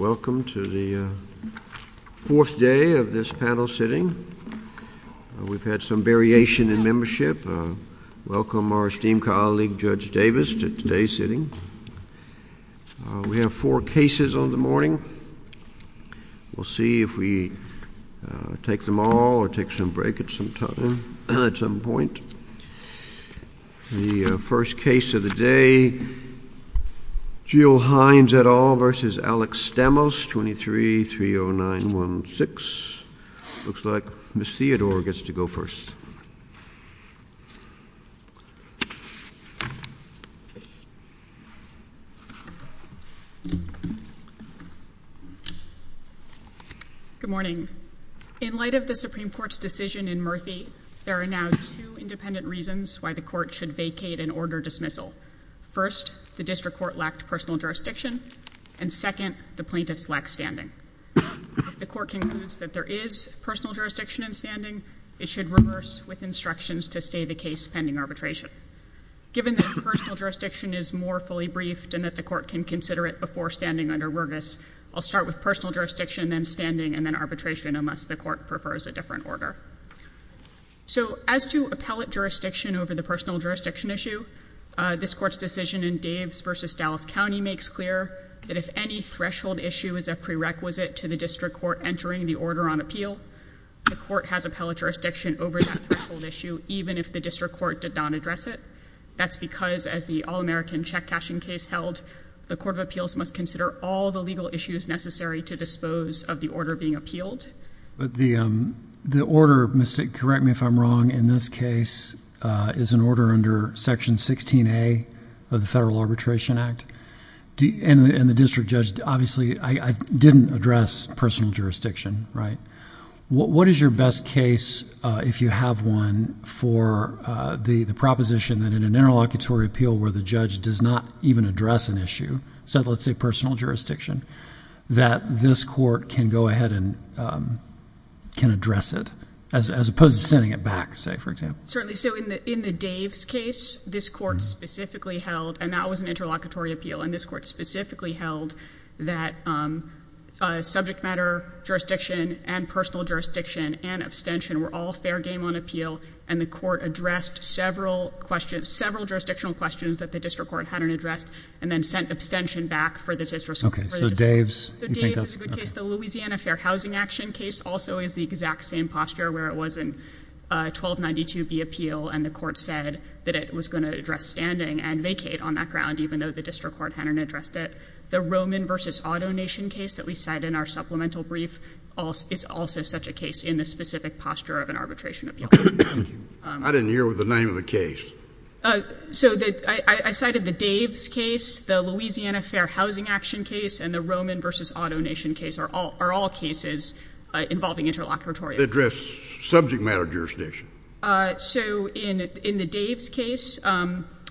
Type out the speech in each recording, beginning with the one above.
Welcome to the fourth day of this panel sitting. We've had some variation in membership. Welcome our esteemed colleague Judge Davis to today's sitting. We have four cases on the morning. We'll see if we take them all or take some break at some point. The first case of the day, Jill Hines et al. v. Alex Stamos, 23-30916. Looks like Ms. Theodore gets to go first. Good morning. In light of the Supreme Court's decision in Murphy, there are now two independent reasons why the Court should vacate an order dismissal. First, the District Court lacked personal jurisdiction. And second, the plaintiffs lacked standing. If the Court concludes that there is personal jurisdiction and standing, it should reverse with instructions to stay the case pending arbitration. Given that personal jurisdiction is more fully briefed and that the Court can consider it before standing under Rergus, I'll start with personal jurisdiction, then standing, and then arbitration unless the Court prefers a different order. So as to appellate jurisdiction over the personal jurisdiction issue, this Court's decision in Daves v. Dallas County makes clear that if any threshold issue is a prerequisite to the District Court entering the order on appeal, the Court has appellate jurisdiction over that threshold issue even if the District Court did not address it. That's because, as the all-American check cashing case held, the Court of Appeals must consider all the legal issues necessary to dispose of the order being appealed. But the order, correct me if I'm wrong, in this case is an order under Section 16A of the Federal Arbitration Act. And the District Judge obviously didn't address personal jurisdiction, right? What is your best case, if you have one, for the proposition that in an interlocutory appeal where the judge does not even address an issue, let's say personal jurisdiction, that this Court can go ahead and can address it as opposed to sending it back, say, for example? Certainly. So in the Daves case, this Court specifically held, and that was an interlocutory appeal, and this Court specifically held that subject matter jurisdiction and personal jurisdiction and abstention were all fair game on appeal, and the Court addressed several jurisdictional questions that the District Court hadn't addressed and then sent abstention back for the District Court. So Daves is a good case. The Louisiana Fair Housing Action case also is the exact same posture that was in 1292B appeal, and the Court said that it was going to address standing and vacate on that ground even though the District Court hadn't addressed it. The Roman v. Auto Nation case that we cite in our supplemental brief is also such a case in the specific posture of an arbitration appeal. I didn't hear the name of the case. So I cited the Daves case, the Louisiana Fair Housing Action case, and the Roman v. Auto Nation case are all cases involving interlocutory appeals. Subject matter jurisdiction. So in the Daves case,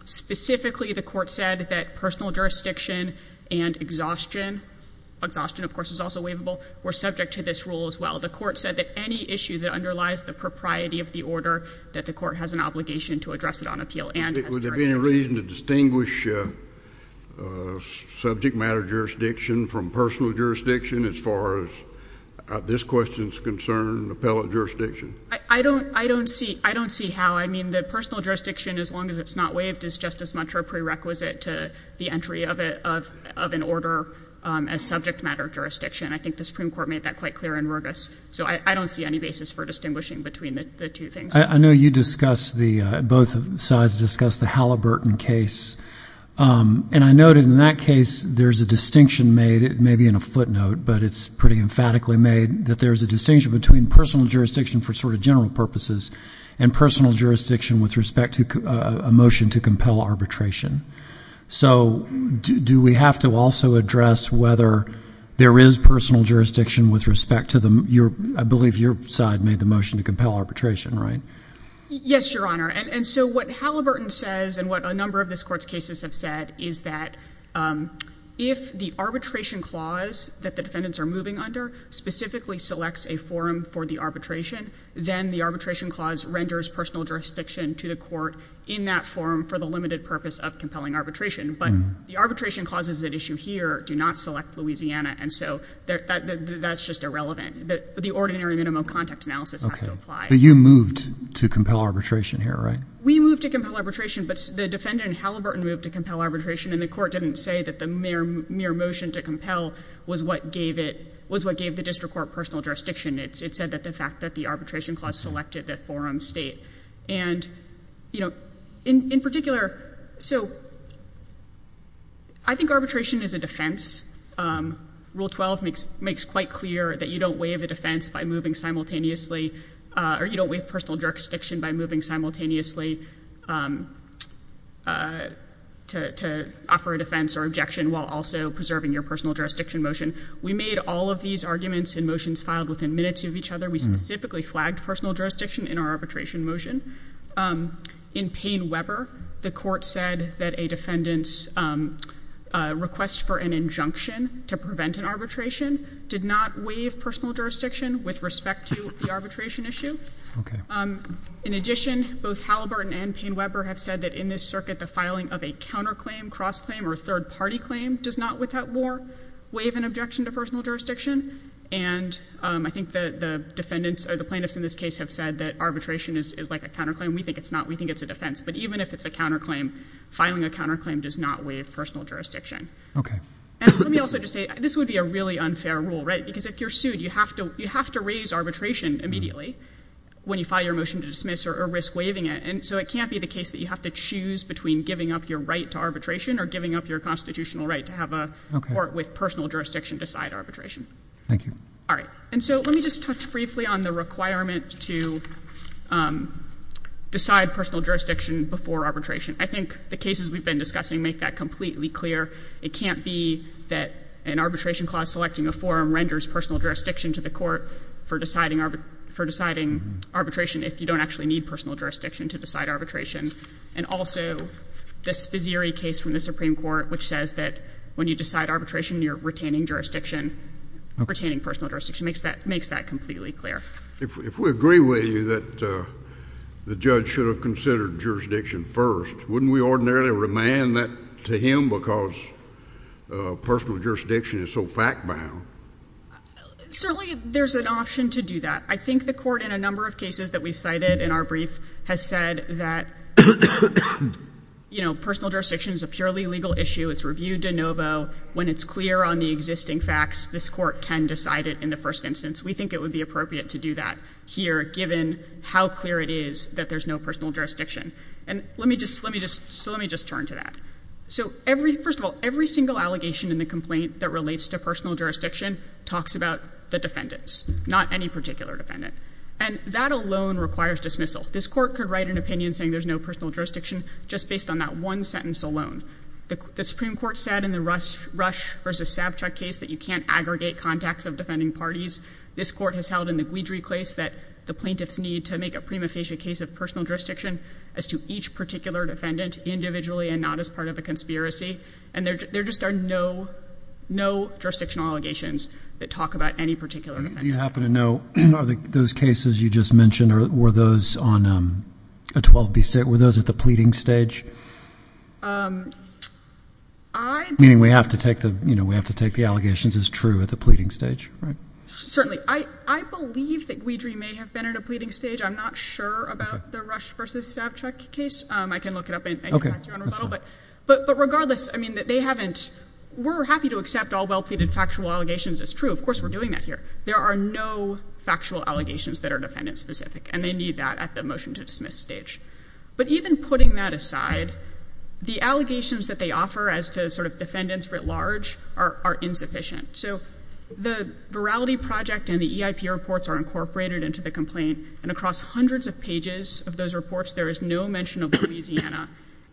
specifically the Court said that personal jurisdiction and exhaustion, exhaustion of course is also waivable, were subject to this rule as well. The Court said that any issue that underlies the propriety of the order that the Court has an obligation to address it on appeal and has jurisdiction. Was there any reason to distinguish subject matter jurisdiction from personal jurisdiction as far as this question is concerned, appellate jurisdiction? I don't see how. I mean, the personal jurisdiction, as long as it's not waived, is just as much a prerequisite to the entry of an order as subject matter jurisdiction. I think the Supreme Court made that quite clear in Rergus. So I don't see any basis for distinguishing between the two things. I know you discussed the, both sides discussed the Halliburton case, and I noted in that case there's a distinction made, it may be in a footnote, but it's pretty emphatically made, that there's a distinction between personal jurisdiction for sort of general purposes and personal jurisdiction with respect to a motion to compel arbitration. So do we have to also address whether there is personal jurisdiction with respect to the, I believe your side made the motion to compel arbitration, right? Yes, Your Honor, and so what Halliburton says and what a number of this Court's cases have said is that if the arbitration clause that the defendants are moving under, specifically selects a forum for the arbitration, then the arbitration clause renders personal jurisdiction to the Court in that forum for the limited purpose of compelling arbitration. But the arbitration clauses at issue here do not select Louisiana, and so that's just irrelevant. The ordinary minimum contact analysis has to apply. But you moved to compel arbitration here, right? We moved to compel arbitration, but the defendant in Halliburton moved to compel arbitration and the Court didn't say that the mere motion to compel was what gave it, was what gave the District Court personal jurisdiction. It said that the fact that the arbitration clause selected that forum state. And, you know, in particular, so I think arbitration is a defense. Rule 12 makes quite clear that you don't waive a defense by moving simultaneously, or you don't waive personal jurisdiction by moving simultaneously to offer a defense or objection while also preserving your personal jurisdiction motion. We made all of these arguments and motions filed within minutes of each other. We specifically flagged personal jurisdiction in our arbitration motion. In Payne-Weber, the Court said that a defendant's request for an injunction to prevent an arbitration did not waive personal jurisdiction with respect to the arbitration issue. In addition, both Halliburton and Payne-Weber have said that in this circuit, the filing of a counterclaim, cross-claim, or third-party claim does not, without war, waive an objection to personal jurisdiction. And I think the defendants or the plaintiffs in this case have said that arbitration is like a counterclaim. We think it's not. We think it's a defense. But even if it's a counterclaim, filing a counterclaim does not waive personal jurisdiction. And let me also just say, this would be a really unfair rule, right? Because if you're sued, you have to raise arbitration immediately when you file your motion to dismiss or risk waiving it. And so it can't be the case that you have to choose between giving up your right to arbitration or giving up your constitutional right to have a court with personal jurisdiction decide arbitration. Thank you. All right. And so let me just touch briefly on the requirement to decide personal jurisdiction before arbitration. I think the cases we've been discussing make that completely clear. It can't be that an arbitration clause selecting a forum renders personal jurisdiction to the court for deciding arbitration if you don't actually need personal jurisdiction to decide arbitration. And also, this Fizzieri case from the Supreme Court, which says that when you decide arbitration, you're retaining jurisdiction, retaining personal jurisdiction, makes that completely clear. If we agree with you that the judge should have considered jurisdiction first, wouldn't we ordinarily remand that to him because personal jurisdiction is so fact-bound? Certainly, there's an option to do that. I think the court in a number of cases that we've cited in our brief has said that personal jurisdiction is a purely legal issue. It's review de novo. When it's clear on the existing facts, this court can decide it in the first instance. We think it would be appropriate to do that here given how clear it is that there's no personal jurisdiction. So let me just turn to that. First of all, every single allegation in the complaint that relates to personal jurisdiction talks about the defendants, not any particular defendant. And that alone requires dismissal. This court could write an opinion saying there's no personal jurisdiction just based on that one sentence alone. The Supreme Court said in the Rush v. Savchuk case that you can't aggregate contacts of defending parties. This court has held in the Guidry case that the plaintiffs need to make a prima facie case of personal jurisdiction as to each particular defendant individually and not as part of a conspiracy. And there just are no, no jurisdictional allegations that talk about any particular defendant. I happen to know, are those cases you just mentioned, were those on a 12-B stage? Were those at the pleading stage? Meaning we have to take the, you know, we have to take the allegations as true at the pleading stage, right? Certainly. I believe that Guidry may have been at a pleading stage. I'm not sure about the Rush v. Savchuk case. I can look it up and get back to you on rebuttal. But regardless, I mean, they haven't, we're happy to accept all well-pleaded factual allegations as true. Of course, we're doing that here. There are no factual allegations that are defendant-specific, and they need that at the motion-to-dismiss stage. But even putting that aside, the allegations that they offer as to sort of defendants writ large are insufficient. So the Virality Project and the EIP reports are incorporated into the complaint, and across hundreds of pages of those reports, there is no mention of Louisiana.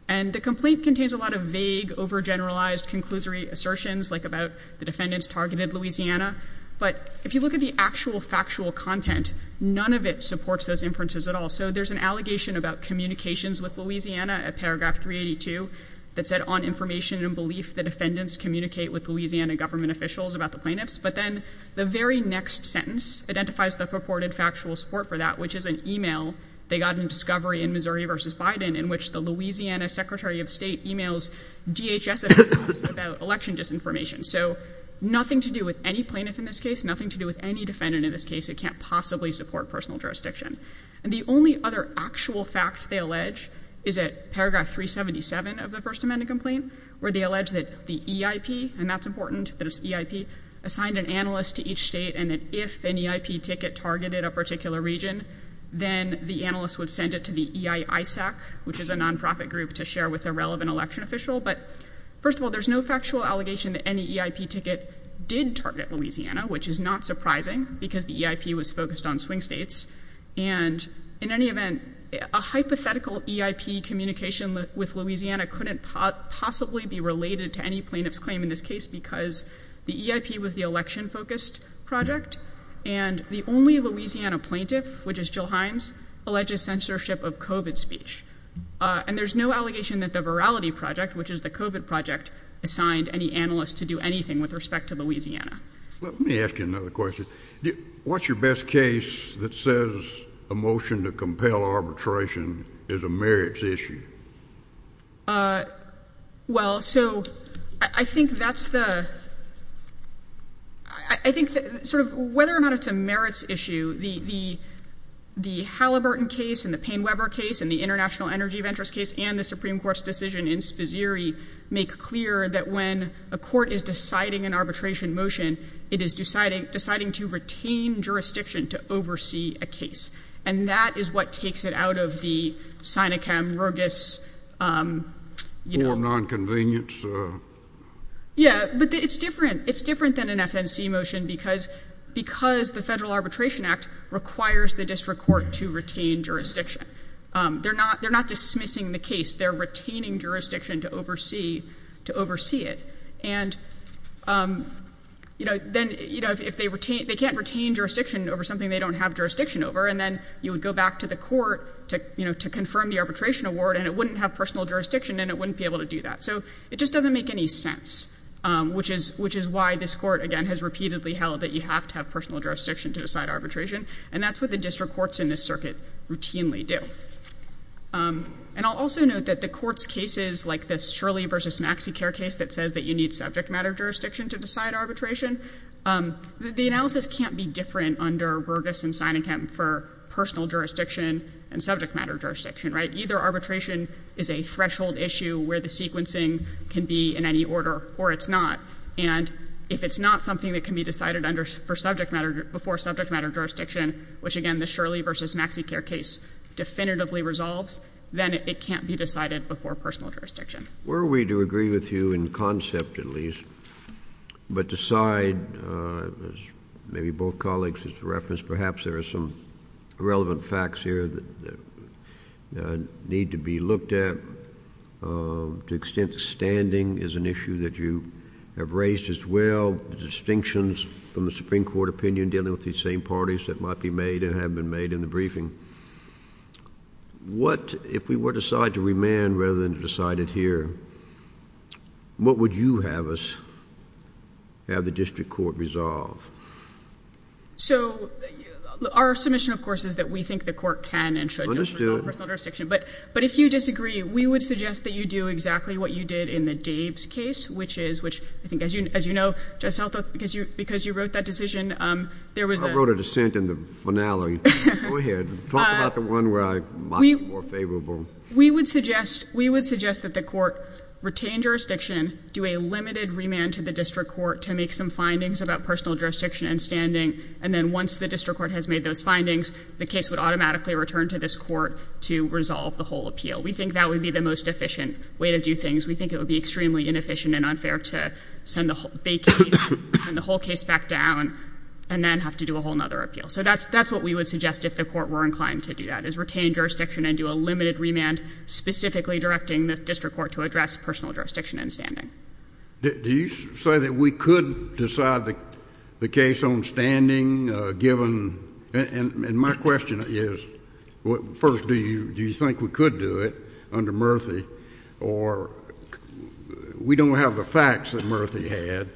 And the complaint contains a lot of vague, over-generalized, conclusory assertions like about the defendants targeted Louisiana. But if you look at the actual factual content, none of it supports those inferences at all. So there's an allegation about communications with Louisiana at paragraph 382 that said, on information and belief, the defendants communicate with Louisiana government officials about the plaintiffs. But then the very next sentence identifies the purported factual support for that, which is an email they got in Discovery in Missouri v. Biden in which the Louisiana Secretary of State emails DHS about election disinformation. So nothing to do with any plaintiff in this case, nothing to do with any defendant in this case. It can't possibly support personal jurisdiction. And the only other actual fact they allege is at paragraph 377 of the First Amendment complaint where they allege that the EIP, and that's important, that it's EIP, assigned an analyst to each state, and that if an EIP ticket targeted a particular region, then the analyst would send it to the EIISAC, which is a nonprofit group to share with a relevant election official. But first of all, there's no factual allegation that any EIP ticket did target Louisiana, which is not surprising because the EIP was focused on swing states. And in any event, a hypothetical EIP communication with Louisiana couldn't possibly be related to any plaintiff's claim in this case because the EIP was the election-focused project, and the only Louisiana plaintiff, which is Jill Hines, alleges censorship of COVID speech. And there's no allegation that the Virality Project, which is the COVID project, assigned any analyst to do anything with respect to Louisiana. Let me ask you another question. What's your best case that says a motion to compel arbitration is a merits issue? Well, so I think that's the... I think that sort of whether or not it's a merits issue, the Halliburton case and the Payne-Weber case and the International Energy Ventures case and the Supreme Court's decision in Spizzeri make clear that when a court is deciding an arbitration motion, it is deciding to retain jurisdiction to oversee a case. And that is what takes it out of the Sinicam, Rogas, you know... For nonconvenience? Yeah, but it's different. It's different than an FNC motion because the Federal Arbitration Act requires the district court to retain jurisdiction. They're not dismissing the case. They're retaining jurisdiction to oversee it. And, you know, if they can't retain jurisdiction over something they don't have jurisdiction over and then you would go back to the court to confirm the arbitration award and it wouldn't have personal jurisdiction and it wouldn't be able to do that. So it just doesn't make any sense, which is why this court, again, has repeatedly held that you have to have personal jurisdiction to decide arbitration. And that's what the district courts in this circuit routinely do. And I'll also note that the court's cases like this Shirley v. MaxiCare case that says that you need subject matter jurisdiction to decide arbitration, the analysis can't be different under Rogas and Sinicam for personal jurisdiction and subject matter jurisdiction, right? Either arbitration is a threshold issue where the sequencing can be in any order or it's not. And if it's not something that can be decided for subject matter, before subject matter jurisdiction, which, again, the Shirley v. MaxiCare case definitively resolves, then it can't be decided before personal jurisdiction. Were we to agree with you in concept at least but decide, as maybe both colleagues have referenced, perhaps there are some relevant facts here that need to be looked at to the extent that standing is an issue and we have raised as well the distinctions from the Supreme Court opinion dealing with these same parties that might be made and have been made in the briefing. What, if we were to decide to remand rather than to decide it here, what would you have us, have the district court resolve? So, our submission, of course, is that we think the court can and should resolve personal jurisdiction. But if you disagree, we would suggest that you do exactly what you did in the Dave's case, which is, which I think, as you know, because you wrote that decision, there was a... I wrote a dissent in the finale. Go ahead. Talk about the one where I'm much more favorable. We would suggest that the court retain jurisdiction, do a limited remand to the district court to make some findings about personal jurisdiction and standing, and then once the district court has made those findings, the case would automatically return to this court to resolve the whole appeal. We think that would be the most efficient way to do things. It would be extremely inefficient and unfair to send the whole case back down and then have to do a whole other appeal. So that's what we would suggest if the court were inclined to do that, is retain jurisdiction and do a limited remand specifically directing the district court to address personal jurisdiction and standing. Do you say that we could decide the case on standing, given... And my question is, first, do you think we could do it under Murthy or we don't have the facts that Murthy had,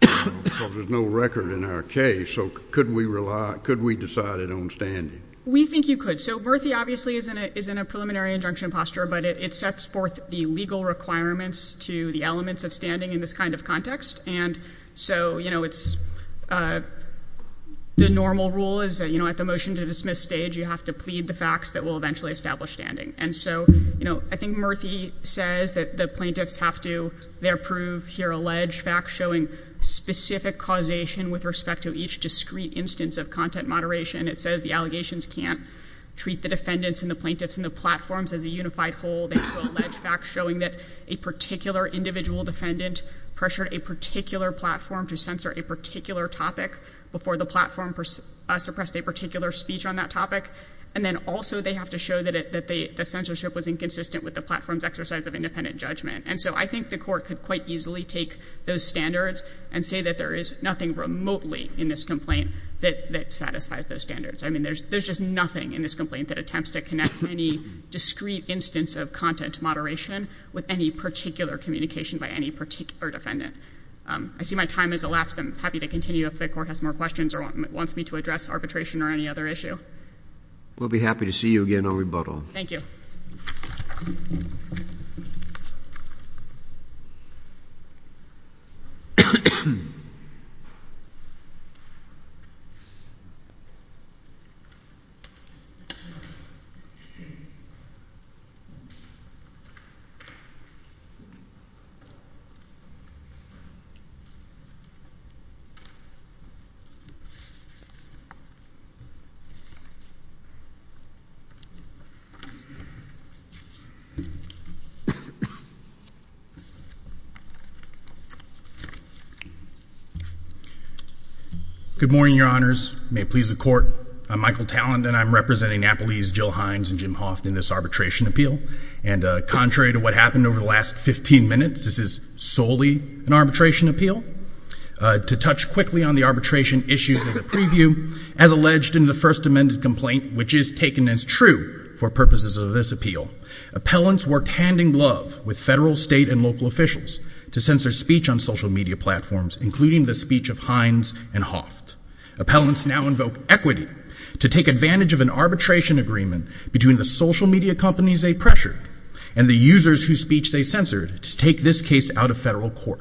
because there's no record in our case, so could we decide it on standing? We think you could. So Murthy obviously is in a preliminary injunction posture, but it sets forth the legal requirements to the elements of standing in this kind of context. And so, you know, it's... The normal rule is that, you know, at the motion to dismiss stage, you have to plead the facts that will eventually establish standing. And so, you know, I think Murthy says that the plaintiffs have to... They approve here alleged facts showing specific causation with respect to each discrete instance of content moderation. It says the allegations can't treat the defendants and the plaintiffs and the platforms as a unified whole. They approve alleged facts showing that a particular individual defendant pressured a particular platform to censor a particular topic before the platform suppressed a particular speech on that topic. And then also they have to show that the censorship was inconsistent with the platform's exercise of independent judgment. And so I think the Court could quite easily take those standards and say that there is nothing remotely in this complaint that satisfies those standards. I mean, there's just nothing in this complaint that attempts to connect any discrete instance of content moderation with any particular communication by any particular defendant. I see my time has elapsed. I'm happy to continue if the Court has more questions or wants me to address arbitration or any other issue. We'll be happy to see you again on rebuttal. Thank you. Good morning, Your Honors. May it please the Court. I'm Michael Tallent and I'm representing Napolese, Jill Hines, and Jim Hoft in this arbitration appeal. And contrary to what happened over the last 15 minutes, this is solely an arbitration appeal. To touch quickly on the arbitration issues as a preview, as alleged in the First Amendment complaint, which is taken as true for purposes of this appeal, appellants worked hand-in-glove with federal, state, and local officials to censor speech on social media platforms, including the speech of Hines and Hoft. Appellants now invoke equity to take advantage of an arbitration agreement between the social media companies they pressured and the users whose speech they censored to take this case out of federal court.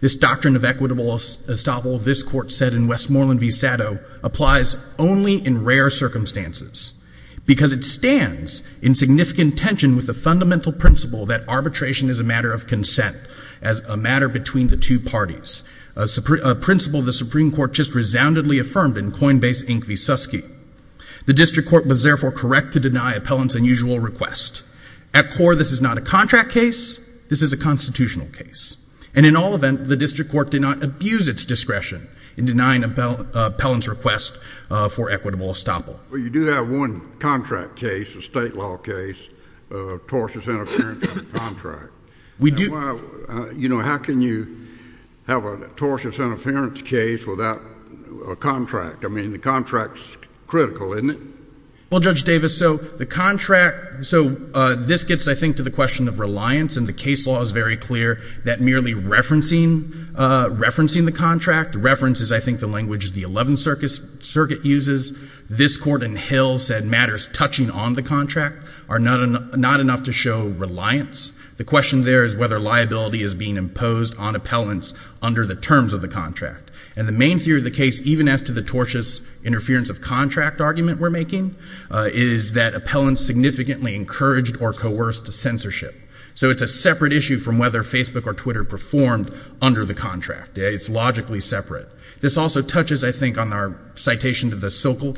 This doctrine of equitable estoppel, this Court said in Westmoreland v. Sado, applies only in rare circumstances because it stands in significant tension with the fundamental principle that arbitration is a matter of consent, as a matter between the two parties, a principle the Supreme Court just resoundedly affirmed in Coinbase v. Susky. The District Court was therefore correct to deny appellants' unusual request. At core, this is not a contract case. This is a constitutional case. And in all event, the District Court did not abuse its discretion in denying appellants' request for equitable estoppel. Well, you do have one contract case, a state law case, of tortious interference in a contract. We do. You know, how can you have a tortious interference case without a contract? I mean, the contract's critical, isn't it? Well, Judge Davis, so the contract, so this gets, I think, to the question of reliance, and the case law is very clear that merely referencing the contract, reference is, I think, the language the Eleventh Circuit uses. The Supreme Court in Hill said matters touching on the contract are not enough to show reliance. The question there is whether liability is being imposed on appellants under the terms of the contract. And the main theory of the case, even as to the tortious interference of contract argument we're making, is that appellants significantly encouraged or coerced censorship. So it's a separate issue from whether Facebook or Twitter performed under the contract. It's logically separate. It's a separate issue from the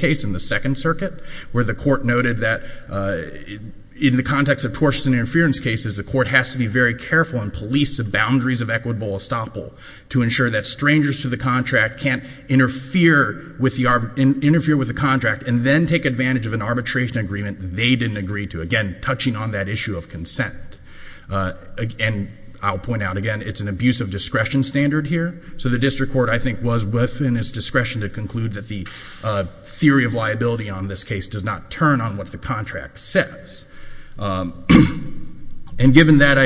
Eleventh Circuit, where the court noted that in the context of tortious interference cases, the court has to be very careful and police the boundaries of equitable estoppel to ensure that strangers to the contract can't interfere with the contract and then take advantage of an arbitration agreement they didn't agree to, again, touching on that issue of consent. And I'll point out, again, it's an abuse of discretion standard here. So the district court, I think, was within its discretion to conclude that an arbitration agreement on this case does not turn on what the contract says. And given that,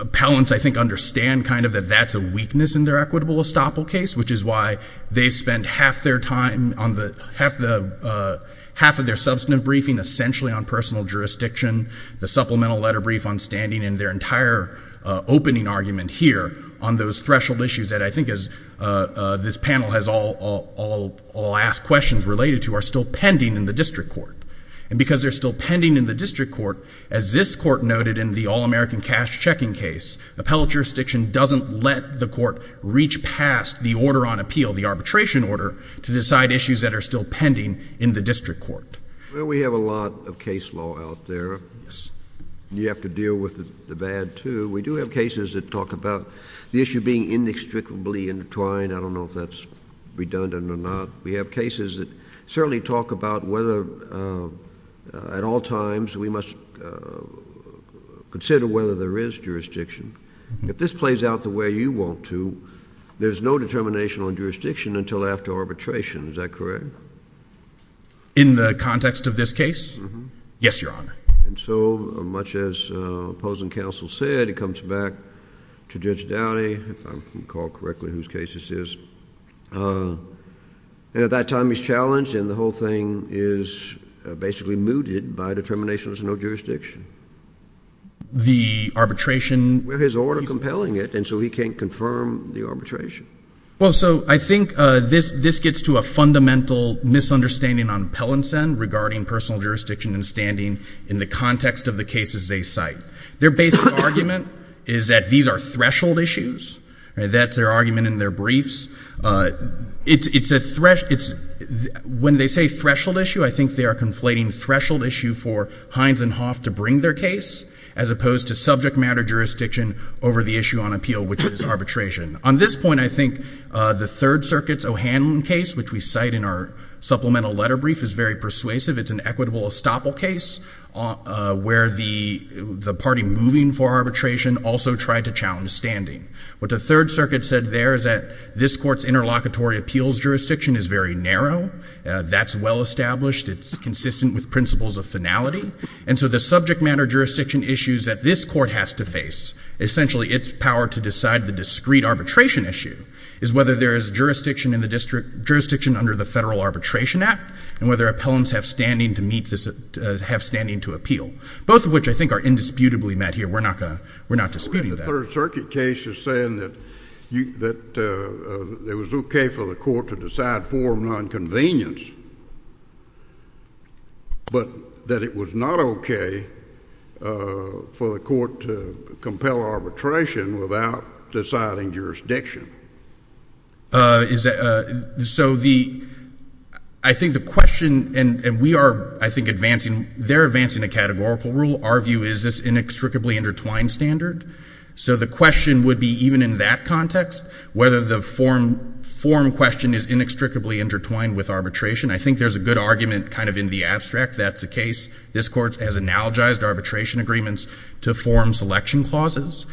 appellants, I think, understand kind of that that's a weakness in their equitable estoppel case, which is why they spent half their time on half of their substantive briefing essentially on personal jurisdiction, the supplemental letter brief on standing, and their entire opening argument here on those threshold issues that I think this panel has all asked questions related to are still pending in the district court. And because they're still pending in the district court, as this court noted in the All-American Cash Checking case, appellate jurisdiction doesn't let the court reach past the order on appeal, the arbitration order, to decide issues that are still pending in the district court. Well, we have a lot of case law out there. Yes. And you have to deal with the bad, too. We do have cases that talk about the issue being inextricably intertwined. I don't know if that's redundant or not. We have cases that certainly talk about whether at all times we must consider whether there is jurisdiction. If this plays out the way you want to, there's no determination on jurisdiction until after arbitration. Is that correct? In the context of this case? Yes, Your Honor. And so much as opposing counsel said, it comes back to judiciality, if I recall correctly whose case this is. And at that time, he's challenged, and the whole thing is basically mooted by a determination there's no jurisdiction. The arbitration... With his order compelling it, and so he can't confirm the arbitration. Well, so I think this gets to a fundamental misunderstanding on appellants' end regarding personal jurisdiction and standing in the context of the cases they cite. Their basic argument is that these are threshold issues. That's their argument in their briefs. It's a threshold... When they say threshold issue, I think they are conflating threshold issue for Hines and Hoff to bring their case as opposed to subject matter jurisdiction over the issue on appeal, which is arbitration. On this point, I think the Third Circuit's O'Hanlon case, which we cite in our supplemental letter brief, is very persuasive. It's an equitable estoppel case where the party moving for arbitration also tried to challenge standing. What the Third Circuit said there is that this court's interlocutory appeals jurisdiction is very narrow. That's well established. It's consistent with principles of finality. And so the subject matter jurisdiction issues that this court has to face, essentially its power to decide the discrete arbitration issue, is whether there is jurisdiction in the district, jurisdiction under the Federal Arbitration Act, and whether appellants have standing to meet this... have standing to appeal. Both of which I think are indisputably met here. We're not disputing that. The Third Circuit case is saying that it was okay for the court to decide formal inconvenience, but that it was not okay for the court to compel arbitration without deciding jurisdiction. So the... I think the question... and we are, I think, advancing a categorical rule. Our view is this inextricably intertwined standard. So the question would be, even in that context, whether the form question is inextricably intertwined with arbitration. I think there's a good argument kind of in the abstract. That's the case. This court has analogized arbitration agreements to form selection clauses.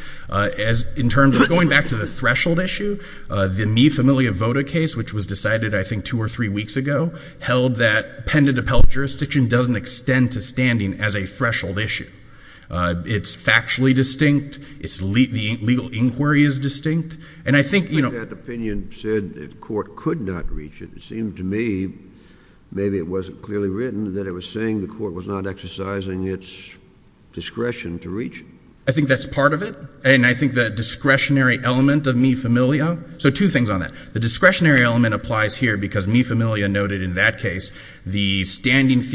In terms of going back to the threshold issue, the Mi Familia Vota case, which was decided, I think, two or three weeks ago, held that appellant jurisdiction doesn't extend to standing as a threshold issue. It's factually distinct. The legal inquiry is distinct. And I think, you know... But that opinion said the court could not reach it. It seemed to me, maybe it wasn't clearly written, that it was saying the court was not exercising its discretion to reach it. I think that's part of it. And I think the discretionary element of Mi Familia... So two things on that. The discretionary element applies here because Mi Familia noted in that case that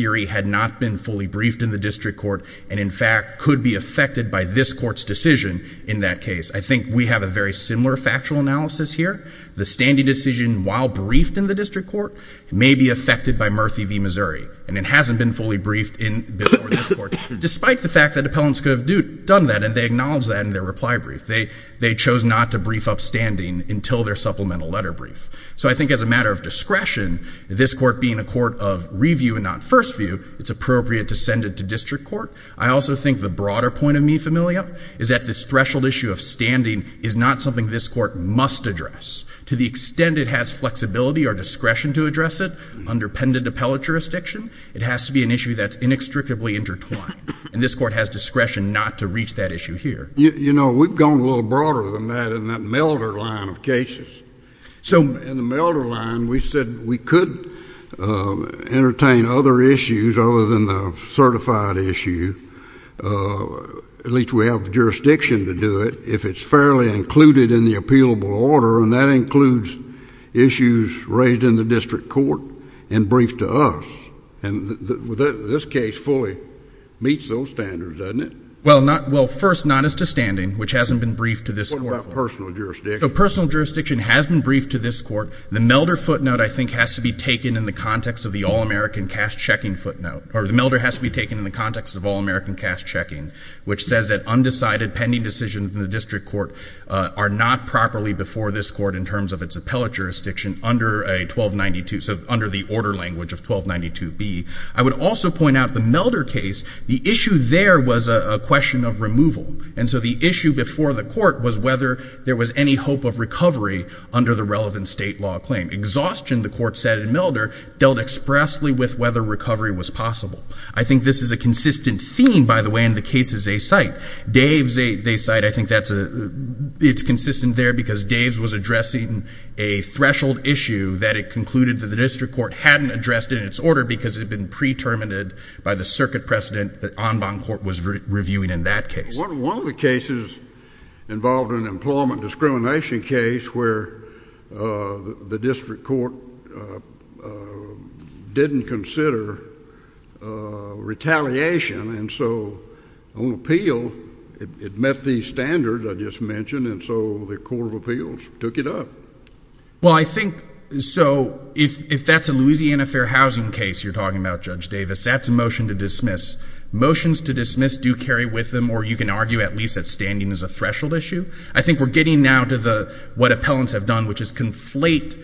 they had not been fully briefed in the district court and, in fact, could be affected by this court's decision in that case. I think we have a very similar factual analysis here. The standing decision, while briefed in the district court, may be affected by Murphy v. Missouri. And it hasn't been fully briefed before this court, despite the fact that appellants could have done that and they acknowledged that in their reply brief. They chose not to brief upstanding until their supplemental letter brief. So I think as a matter of discretion, this court being a court of review and not first view, it's appropriate to send it to district court. I also think the broader point of Mi Familia is that this threshold issue of standing is not something this court must address. To the extent it has flexibility or discretion to address it under pendant appellate jurisdiction, it has to be an issue that's inextricably intertwined. And this court has discretion not to reach that issue here. You know, we've gone a little broader than that in that Milder line of cases. So... We could entertain other issues other than the certified issue. At least we have jurisdiction to do it if it's fairly included in the appealable order. And that includes issues raised in the district court and briefed to us. And this case fully meets those standards, doesn't it? Well, first, not as to standing, which hasn't been briefed to this court. What about personal jurisdiction? So personal jurisdiction has been briefed to this court. It has to be taken in the context of the All-American Cash Checking footnote. Or the Milder has to be taken in the context of All-American Cash Checking, which says that undecided pending decisions in the district court are not properly before this court in terms of its appellate jurisdiction under a 1292... So under the order language of 1292B. I would also point out the Milder case, the issue there was a question of removal. And so the issue before the court was whether there was any hope of recovery under the relevant state law claim. And the Milder dealt expressly with whether recovery was possible. I think this is a consistent theme, by the way, in the cases they cite. Dave's they cite, I think it's consistent there because Dave's was addressing a threshold issue that it concluded that the district court hadn't addressed in its order because it had been pre-terminated by the circuit precedent that Enbonne Court was reviewing in that case. One of the cases involved an employment discrimination case where the district court didn't consider retaliation. And so on appeal, it met these standards I just mentioned. And so the court of appeals took it up. Well, I think so if that's a Louisiana Fair Housing case you're talking about, Judge Davis, that's a motion to dismiss. Motions to dismiss do carry with them or you can argue at least that standing is a threshold issue. I think we're getting now to what appellants have done which is conflate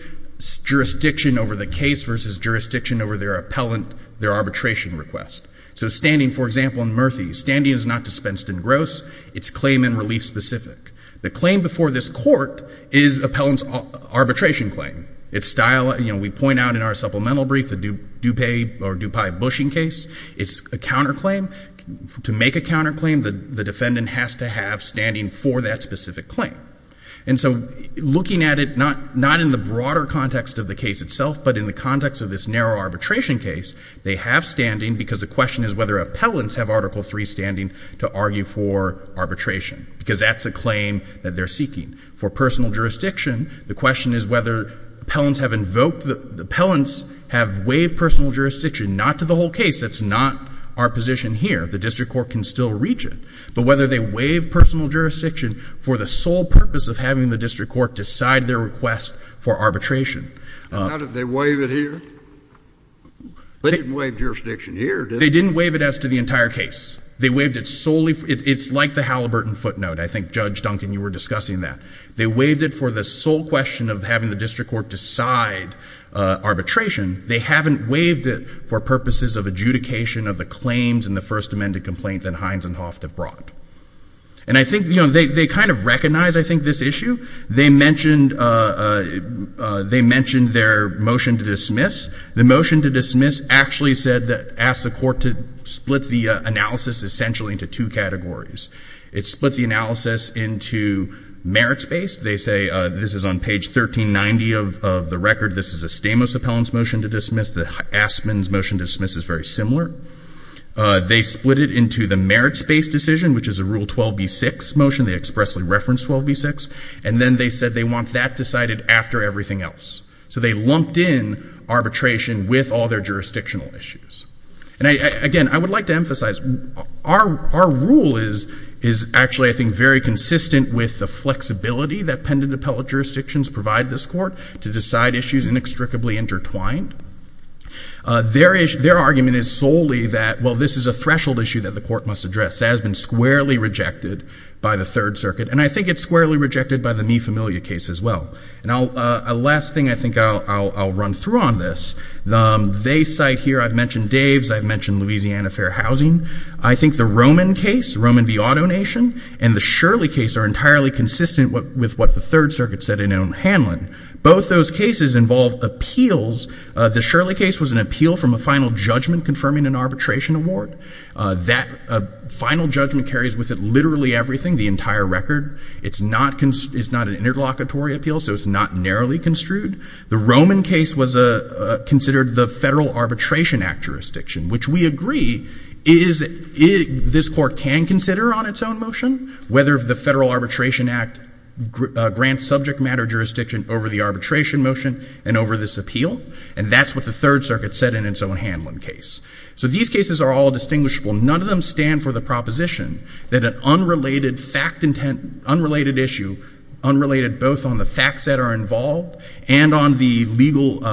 jurisdiction over the case versus jurisdiction over their appellant, their arbitration request. So standing, for example, in Murthy, standing is not dispensed in gross. It's claim and relief specific. The claim before this court is appellant's arbitration claim. We point out in our supplemental brief the Dupay-Bushing case. It's a counterclaim. To make a counterclaim, the defendant has to have a very specific claim. And so looking at it not in the broader context of the case itself, but in the context of this narrow arbitration case, they have standing because the question is whether appellants have Article III standing to argue for arbitration because that's a claim that they're seeking. For personal jurisdiction, the question is whether appellants have invoked, appellants have waived personal jurisdiction, not to the whole case. That's not our position here. The district court can still reach it. But whether they waive personal jurisdiction for the sole purpose of having the district court decide their request for arbitration. How did they waive it here? They didn't waive jurisdiction here, did they? They didn't waive it as to the entire case. They waived it solely for, it's like the Halliburton footnote. I think, Judge Duncan, you were discussing that. They waived it for the sole question of having the district court decide arbitration. They haven't waived it for purposes of adjudication of the claims and the first amended complaint that Hines and Hoft have brought. And I think, you know, they kind of recognize, I think, this issue. They mentioned their motion to dismiss. The motion to dismiss actually said that asked the court to split the analysis essentially into two categories. It split the analysis into merits-based. They say, this is on page 1390 of the record. This is a Stamos appellant's motion to dismiss. The Astman's motion to dismiss is very similar. They split it into the merits-based decision, which is a Rule 12b-6 motion. They expressly referenced 12b-6. And then they said they want that decided after everything else. So they lumped in arbitration with all their jurisdictional issues. And again, I would like to emphasize, our rule is actually, I think, very consistent with the flexibility that pendant appellate jurisdictions provide this court to decide issues inextricably intertwined. Their argument is solely that, well, the threshold issue that the court must address has been squarely rejected by the Third Circuit. And I think it's squarely rejected by the Mi Familia case as well. And a last thing I think I'll run through on this. They cite here, I've mentioned Dave's, I've mentioned Louisiana Fair Housing. I think the Roman case, Roman v. Auto Nation, and the Shirley case are entirely consistent with what the Third Circuit said in Hanlon. Both those cases involve appeals. The Shirley case was an appeal from a final judgment confirming an arbitration award. That final judgment carries with it literally everything, the entire record. It's not an interlocutory appeal, so it's not narrowly construed. The Roman case was considered the Federal Arbitration Act jurisdiction, which we agree this court can consider on its own motion, whether the Federal Arbitration Act grants subject matter jurisdiction over the arbitration motion and over this appeal. And that's what the Third Circuit said in its own Hanlon case. So these cases are all distinguishable. None of them stand for the proposition that an unrelated issue, unrelated both on the facts that are involved and on the legal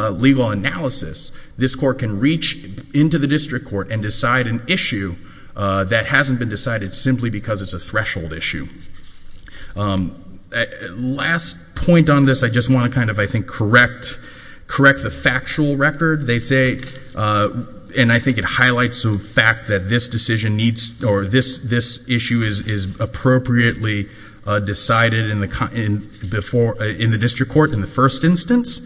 analysis, this court can reach into the district court and decide an issue that hasn't been decided simply because it's a threshold issue. Last point on this, I just want to kind of, I think, correct the factual record. They say, and I think it highlights the fact that this decision needs, or this issue is appropriately decided in the district court in the first instance.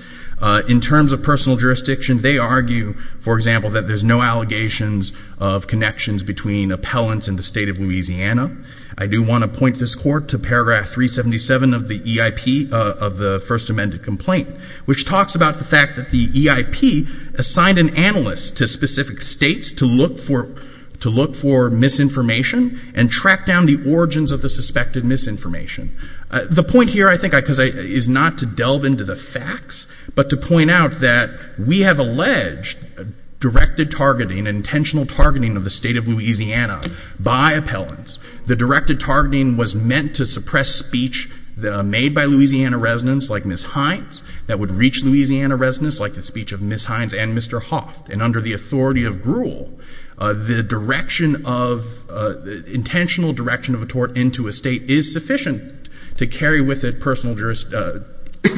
In terms of personal jurisdiction, they argue, for example, that there's no allegations of connections between appellants and the state of Louisiana. I do want to point this court to paragraph 377 of the EIP, of the first amended complaint, which talks about the fact that the EIP assigned an analyst to specific states to look for misinformation and track down the origins of the suspected misinformation. The point here, I think, is not to delve into the facts, but to point out that we have alleged directed targeting, intentional targeting of the state of Louisiana by appellants. The directed targeting was meant to suppress speech made by Louisiana residents, like Ms. Hines, that would reach Louisiana residents, like the speech of Ms. Hines and Mr. Hoff. And under the authority of gruel, the intentional direction of a tort into a state is sufficient to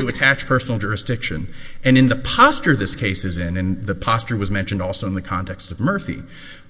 attach personal jurisdiction. And in the posture this case is in, and the posture was mentioned also in the context of Murphy,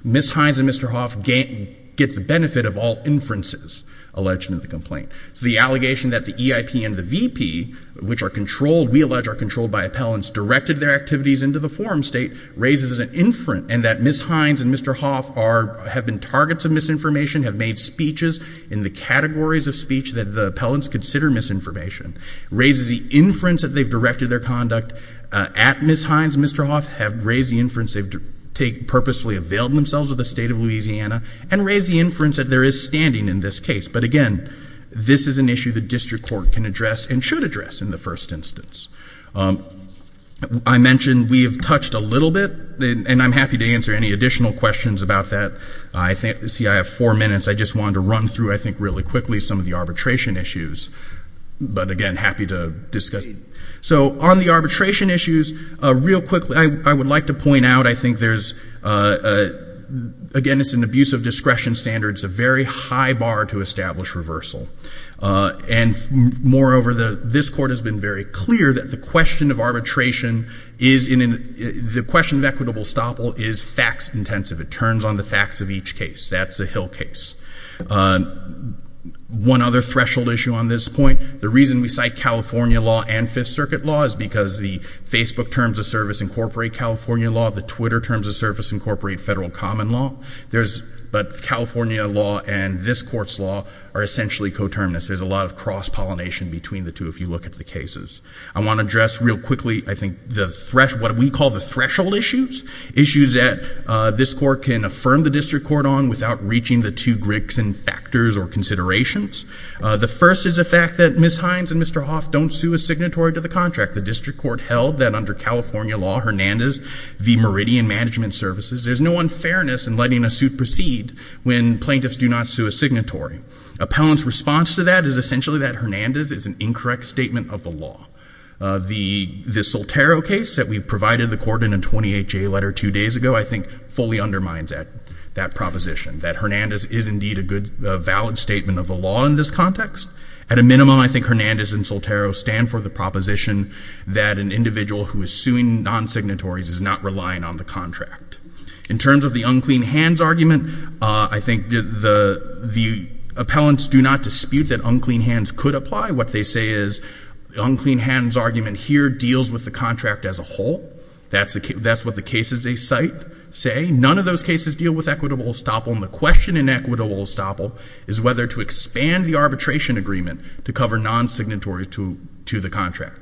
Ms. Hines and Mr. Hoff get the benefit of all inferences alleged in the complaint. The allegation that the EIP and the VP, which are controlled, we allege are controlled by appellants, directed their activities into the forum state raises an inference, and that Ms. Hines and Mr. Hoff have been targets of misinformation, have made speeches in the categories of speech that the appellants consider misinformation, raises the inference that they've directed their conduct at Ms. Hines and Mr. Hoff, have raised the inference they've purposely availed themselves of the state of Louisiana, and raise the inference that there is standing in this case. But, again, this is an issue the district court can address and should address in the first instance. I mentioned we have touched a little bit, and I'm happy to answer any additional questions about that. See, I have four minutes. I just wanted to run through, I think, really quickly some of the arbitration issues. But, again, happy to discuss. So on the arbitration issues, real quickly, I would like to point out, I think there's, again, it's an abuse of discretion standard. It's a very high bar to establish reversal. And, moreover, this court has been very clear that the question of arbitration is in an, the question of equitable estoppel is facts intensive. It turns on the facts of each case. That's a hill case. One other threshold issue on this point, the reason we cite California law and Fifth Circuit law is because the Facebook terms of service incorporate California law. The Twitter terms of service incorporate federal common law. But California law and this court's law are essentially coterminous. There's a lot of cross-pollination between the two if you look at the cases. I want to address real quickly, I think, what we call the threshold issues, issues that this court can affirm the district court on without reaching the two bricks and factors or considerations. The first is the fact that Ms. Hines and Mr. Hoff don't sue a signatory to the contract. The district court held that under California law, Hernandez v. Meridian Management Services, there's no unfairness in letting a suit proceed when plaintiffs do not sue a signatory. Appellant's response to that is essentially that Hernandez is an incorrect statement of the law. The Soltero case that we provided the court in a 28-J letter two days ago, I think fully undermines that proposition, that Hernandez is indeed a valid statement of the law in this context. At a minimum, I think Hernandez and Soltero stand for the proposition that an individual who is suing non-signatories is not relying on the contract. In terms of the unclean hands argument, I think the appellants do not dispute that unclean hands could apply. What they say is the unclean hands argument here deals with the contract as a whole. That's what the cases they cite say. None of those cases deal with equitable estoppel, and the question in equitable estoppel is whether to expand the arbitration agreement to cover non-signatories to the contract.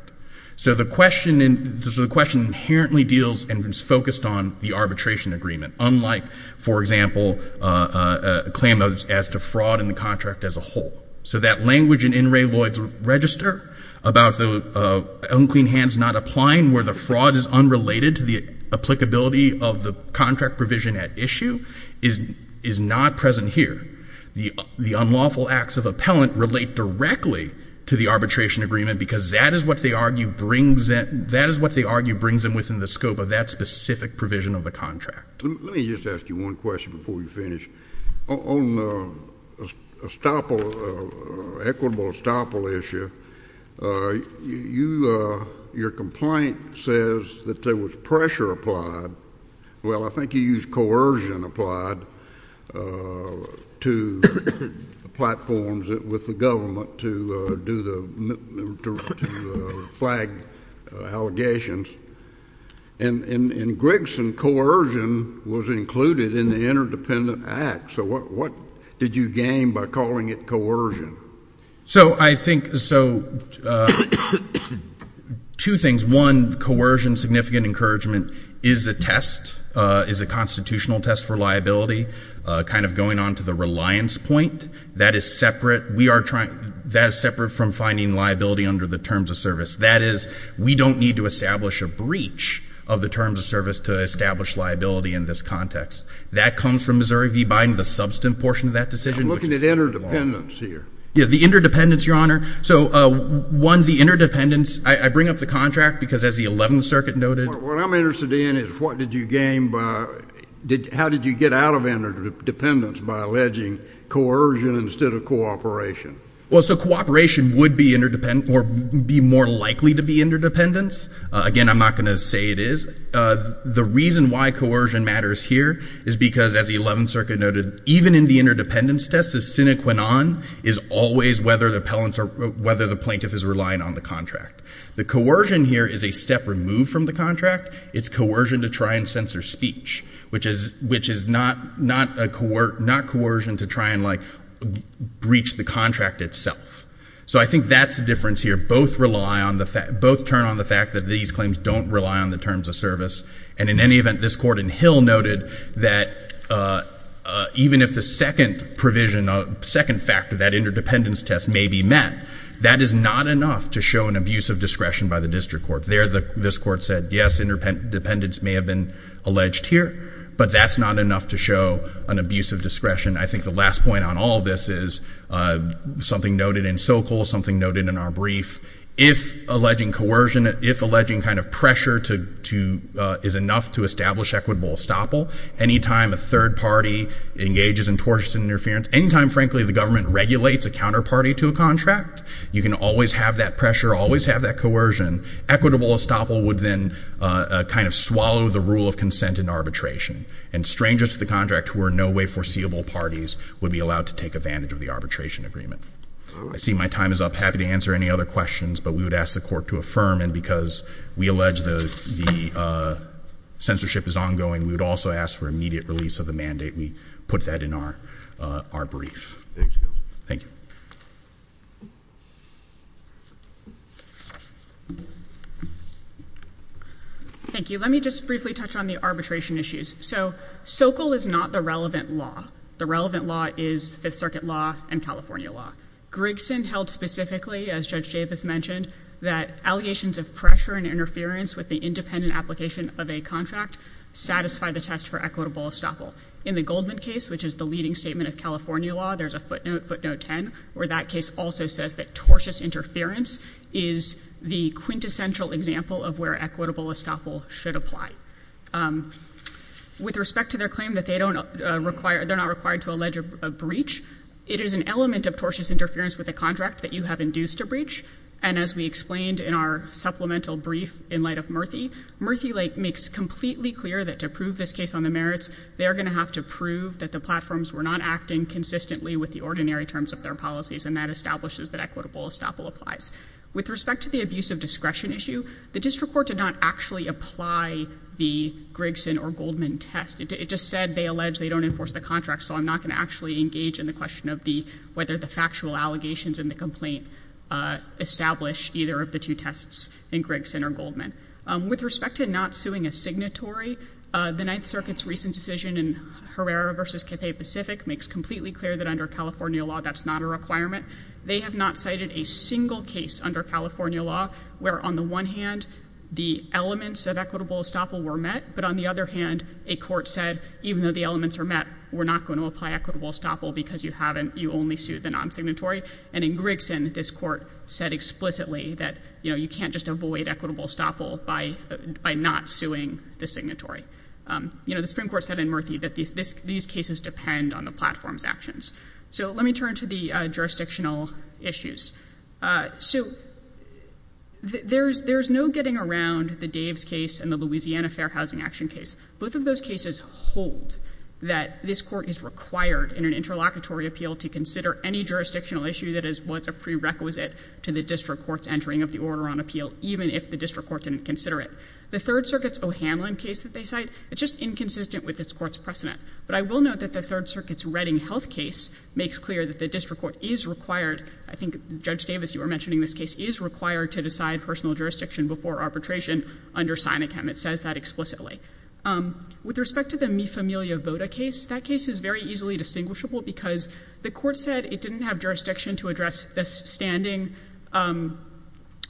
So the question inherently deals and is focused on the arbitration agreement, unlike, for example, a claim as to fraud in the contract as a whole. So that language in In re Lloyd's register about the unclean hands not applying where the fraud is unrelated to the applicability of the contract provision at issue is not present here. The unlawful acts of appellant relate directly to the arbitration agreement because that is what they argue brings them within the scope of that specific provision of the contract. Let me just ask you one question before you finish. On equitable estoppel issue, your complaint says that there was pressure applied. Well, I think you used coercion applied to platforms with the government to flag allegations. And in Grigson, coercion was included in the Interdependent Act. So what did you gain by calling it coercion? So I think, so two things. One, coercion, significant encouragement, is a test, is a constitutional test for liability, kind of going on to the reliance point. That is separate. That is separate from finding liability under the terms of service. That is, we don't need to establish a breach of the terms of service to establish liability in this context. That comes from Missouri v. Biden, the substantive portion of that decision. I'm looking at interdependence here. Yeah, the interdependence, Your Honor. So one, the interdependence, I bring up the contract because as the 11th Circuit noted. What I'm interested in is what did you gain by, how did you get out of interdependence by alleging coercion instead of cooperation? Well, so cooperation would be interdependent or be more likely to be interdependence. Again, I'm not going to say it is. The reason why coercion matters here is because as the 11th Circuit noted, even in the interdependence test, the sine qua non is always whether the plaintiff is relying on the contract. The coercion here is a step removed from the contract. It's coercion to try and censor speech, which is not coercion to try and breach the contract itself. So I think that's the difference here. Both turn on the fact that these claims don't rely on the terms of service. And in any event, this court in Hill noted that even if the second provision, second factor, that interdependence test may be met, that is not enough to show an abuse of discretion by the district court. There this court said, yes, interdependence may have been alleged here, but that's not enough to show an abuse of discretion. I think the last point on all this is something noted in Sokal, something noted in our brief. If alleging coercion, if alleging kind of pressure is enough to establish equitable estoppel, any time a third party engages in tortious interference, any time, frankly, the government regulates a counterparty to a contract, you can always have that pressure, always have that coercion. Equitable estoppel would then kind of swallow the rule of consent in arbitration. And strangers to the contract, who are in no way foreseeable parties, would be subject to that coercion agreement. I see my time is up. Happy to answer any other questions, but we would ask the court to affirm, and because we allege the censorship is ongoing, we would also ask for immediate release of the mandate. We put that in our brief. Thank you. Thank you. Let me just briefly touch on the arbitration issues. So Sokal is not the relevant law. The relevant law is Fifth Circuit law and California law. Grigson held specifically, as Judge Javis mentioned, that allegations of pressure and interference with the independent application of a contract satisfy the test for equitable estoppel. In the Goldman case, which is the leading statement of California law, there's a footnote, footnote 10, where that case also says that tortious interference is the quintessential example of where equitable estoppel should apply. With respect to their claim that they don't require, they're not required to allege a breach, it is an element of tortious interference with a contract that you have induced a breach, and as we explained in our supplemental brief in light of Murthy, Murthy makes completely clear that to prove this case on the merits, they are going to have to prove that the platforms were not acting consistently with the ordinary terms of their policies, and that establishes that equitable estoppel applies. With respect to the abuse of discretion issue, the district court did not actually apply the Grigson or Goldman test. It just said they allege they don't enforce the contract, so I'm not going to actually engage in the question of whether the factual allegations in the complaint establish either of the two tests in Grigson or Goldman. With respect to not suing a signatory, the Ninth Circuit's recent decision in Herrera v. Cathay Pacific makes completely clear that under California law that's not a requirement. They have not cited a single case under California law where on the one hand the elements of equitable estoppel were met, but on the other hand, a court said even though the elements are met, we're not going to apply equitable estoppel because you only sue the non-signatory, and in Grigson, this court said explicitly that you can't just avoid equitable estoppel by not suing the signatory. The Supreme Court said in Murthy that these cases depend on the platform's actions. So let me turn to the jurisdictional issues. So there's no getting around the Daves case and the Louisiana Fair Housing Action case. Both of those cases hold that this court is required in an interlocutory appeal to consider any jurisdictional issue that is what's a prerequisite to the district court's entering of the order on appeal even if the district court didn't consider it. The Third Circuit's O'Hanlon case that they cite is just inconsistent with this court's precedent. But I will note that the Third Circuit's Redding Health case makes clear that the district court is required, I think Judge Davis, you were mentioning this case, is required to decide personal jurisdiction before arbitration under Sinochem. It says that explicitly. With respect to the Mi Familia Voda case, that case is very easily distinguishable because the court said it didn't have jurisdiction to address the standing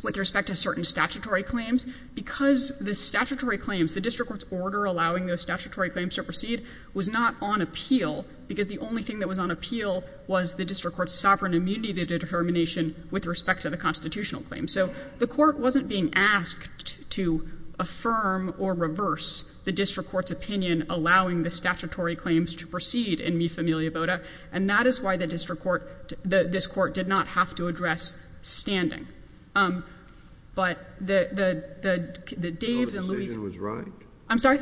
with respect to certain statutory claims because the statutory claims, the district court's order allowing those statutory claims to proceed was not on appeal because the only thing that was on appeal was the district court's sovereign immunity to determination with respect to the constitutional claims. So the court wasn't being asked to affirm or reverse the district court's opinion allowing the statutory claims to proceed in Mi Familia Voda. And that is why the district court, this court did not have to address standing. But the, the, the, the, the Davis and Louise... The decision was right? I'm sorry?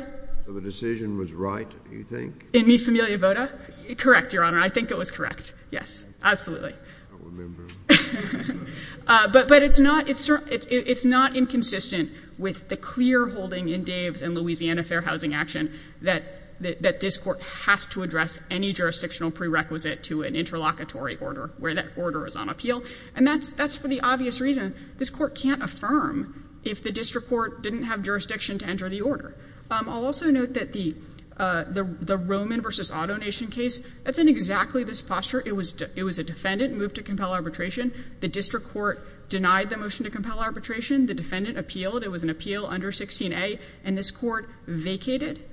The decision was right, do you think? In Mi Familia Voda? Correct, Your Honor. I think it was correct. Yes, absolutely. I don't remember. But, but it's not, it's, it's, it's not inconsistent with the clear holding in Davis and Louisiana Fair Housing Action that, that this court has to address any jurisdictional prerequisite to an interlocutory order where that order is on appeal. And that's, that's for the obvious reason this court can't affirm if the district court didn't have jurisdiction to enter the order. I'll also note that the, the Roman versus AutoNation case, that's in exactly this posture. It was, it was a defendant moved to compel arbitration the district court denied the motion to compel arbitration. The defendant appealed. It was an appeal under 16A. And this court vacated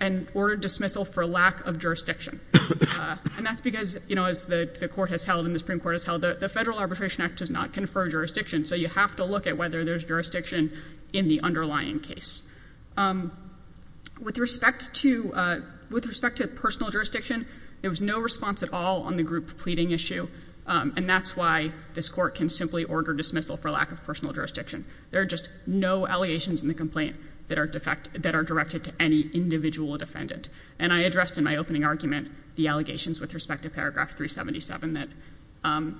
and ordered dismissal for lack of jurisdiction. And that's because, you know, as the, the court has held and the Supreme Court has held that the Federal Arbitration Act does not confer jurisdiction. So you have to look at whether there's jurisdiction in the underlying case. With respect to, with respect to personal jurisdiction, there was no response at all on the group pleading issue. And that's why this court can simply order dismissal for lack of personal jurisdiction. There are just no allegations in the complaint that are directed to any individual defendant. And I addressed in my opening argument the allegations with respect to paragraph 377 that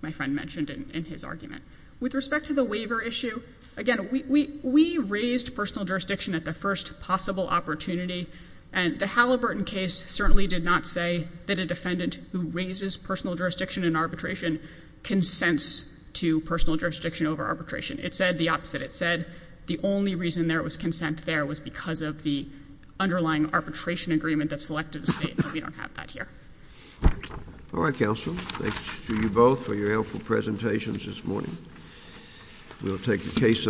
my friend mentioned in his argument. With respect to the waiver issue, again, we raised personal jurisdiction at the first possible opportunity. And the Halliburton case certainly did not say that a defendant who raises personal jurisdiction over arbitration consents to personal jurisdiction over arbitration. It said the opposite. It said the only reason there was consent there was because of the underlying arbitration agreement that selected a state, but we don't have that here. All right, counsel. Thanks to you both for your helpful presentations this morning. We'll take a case...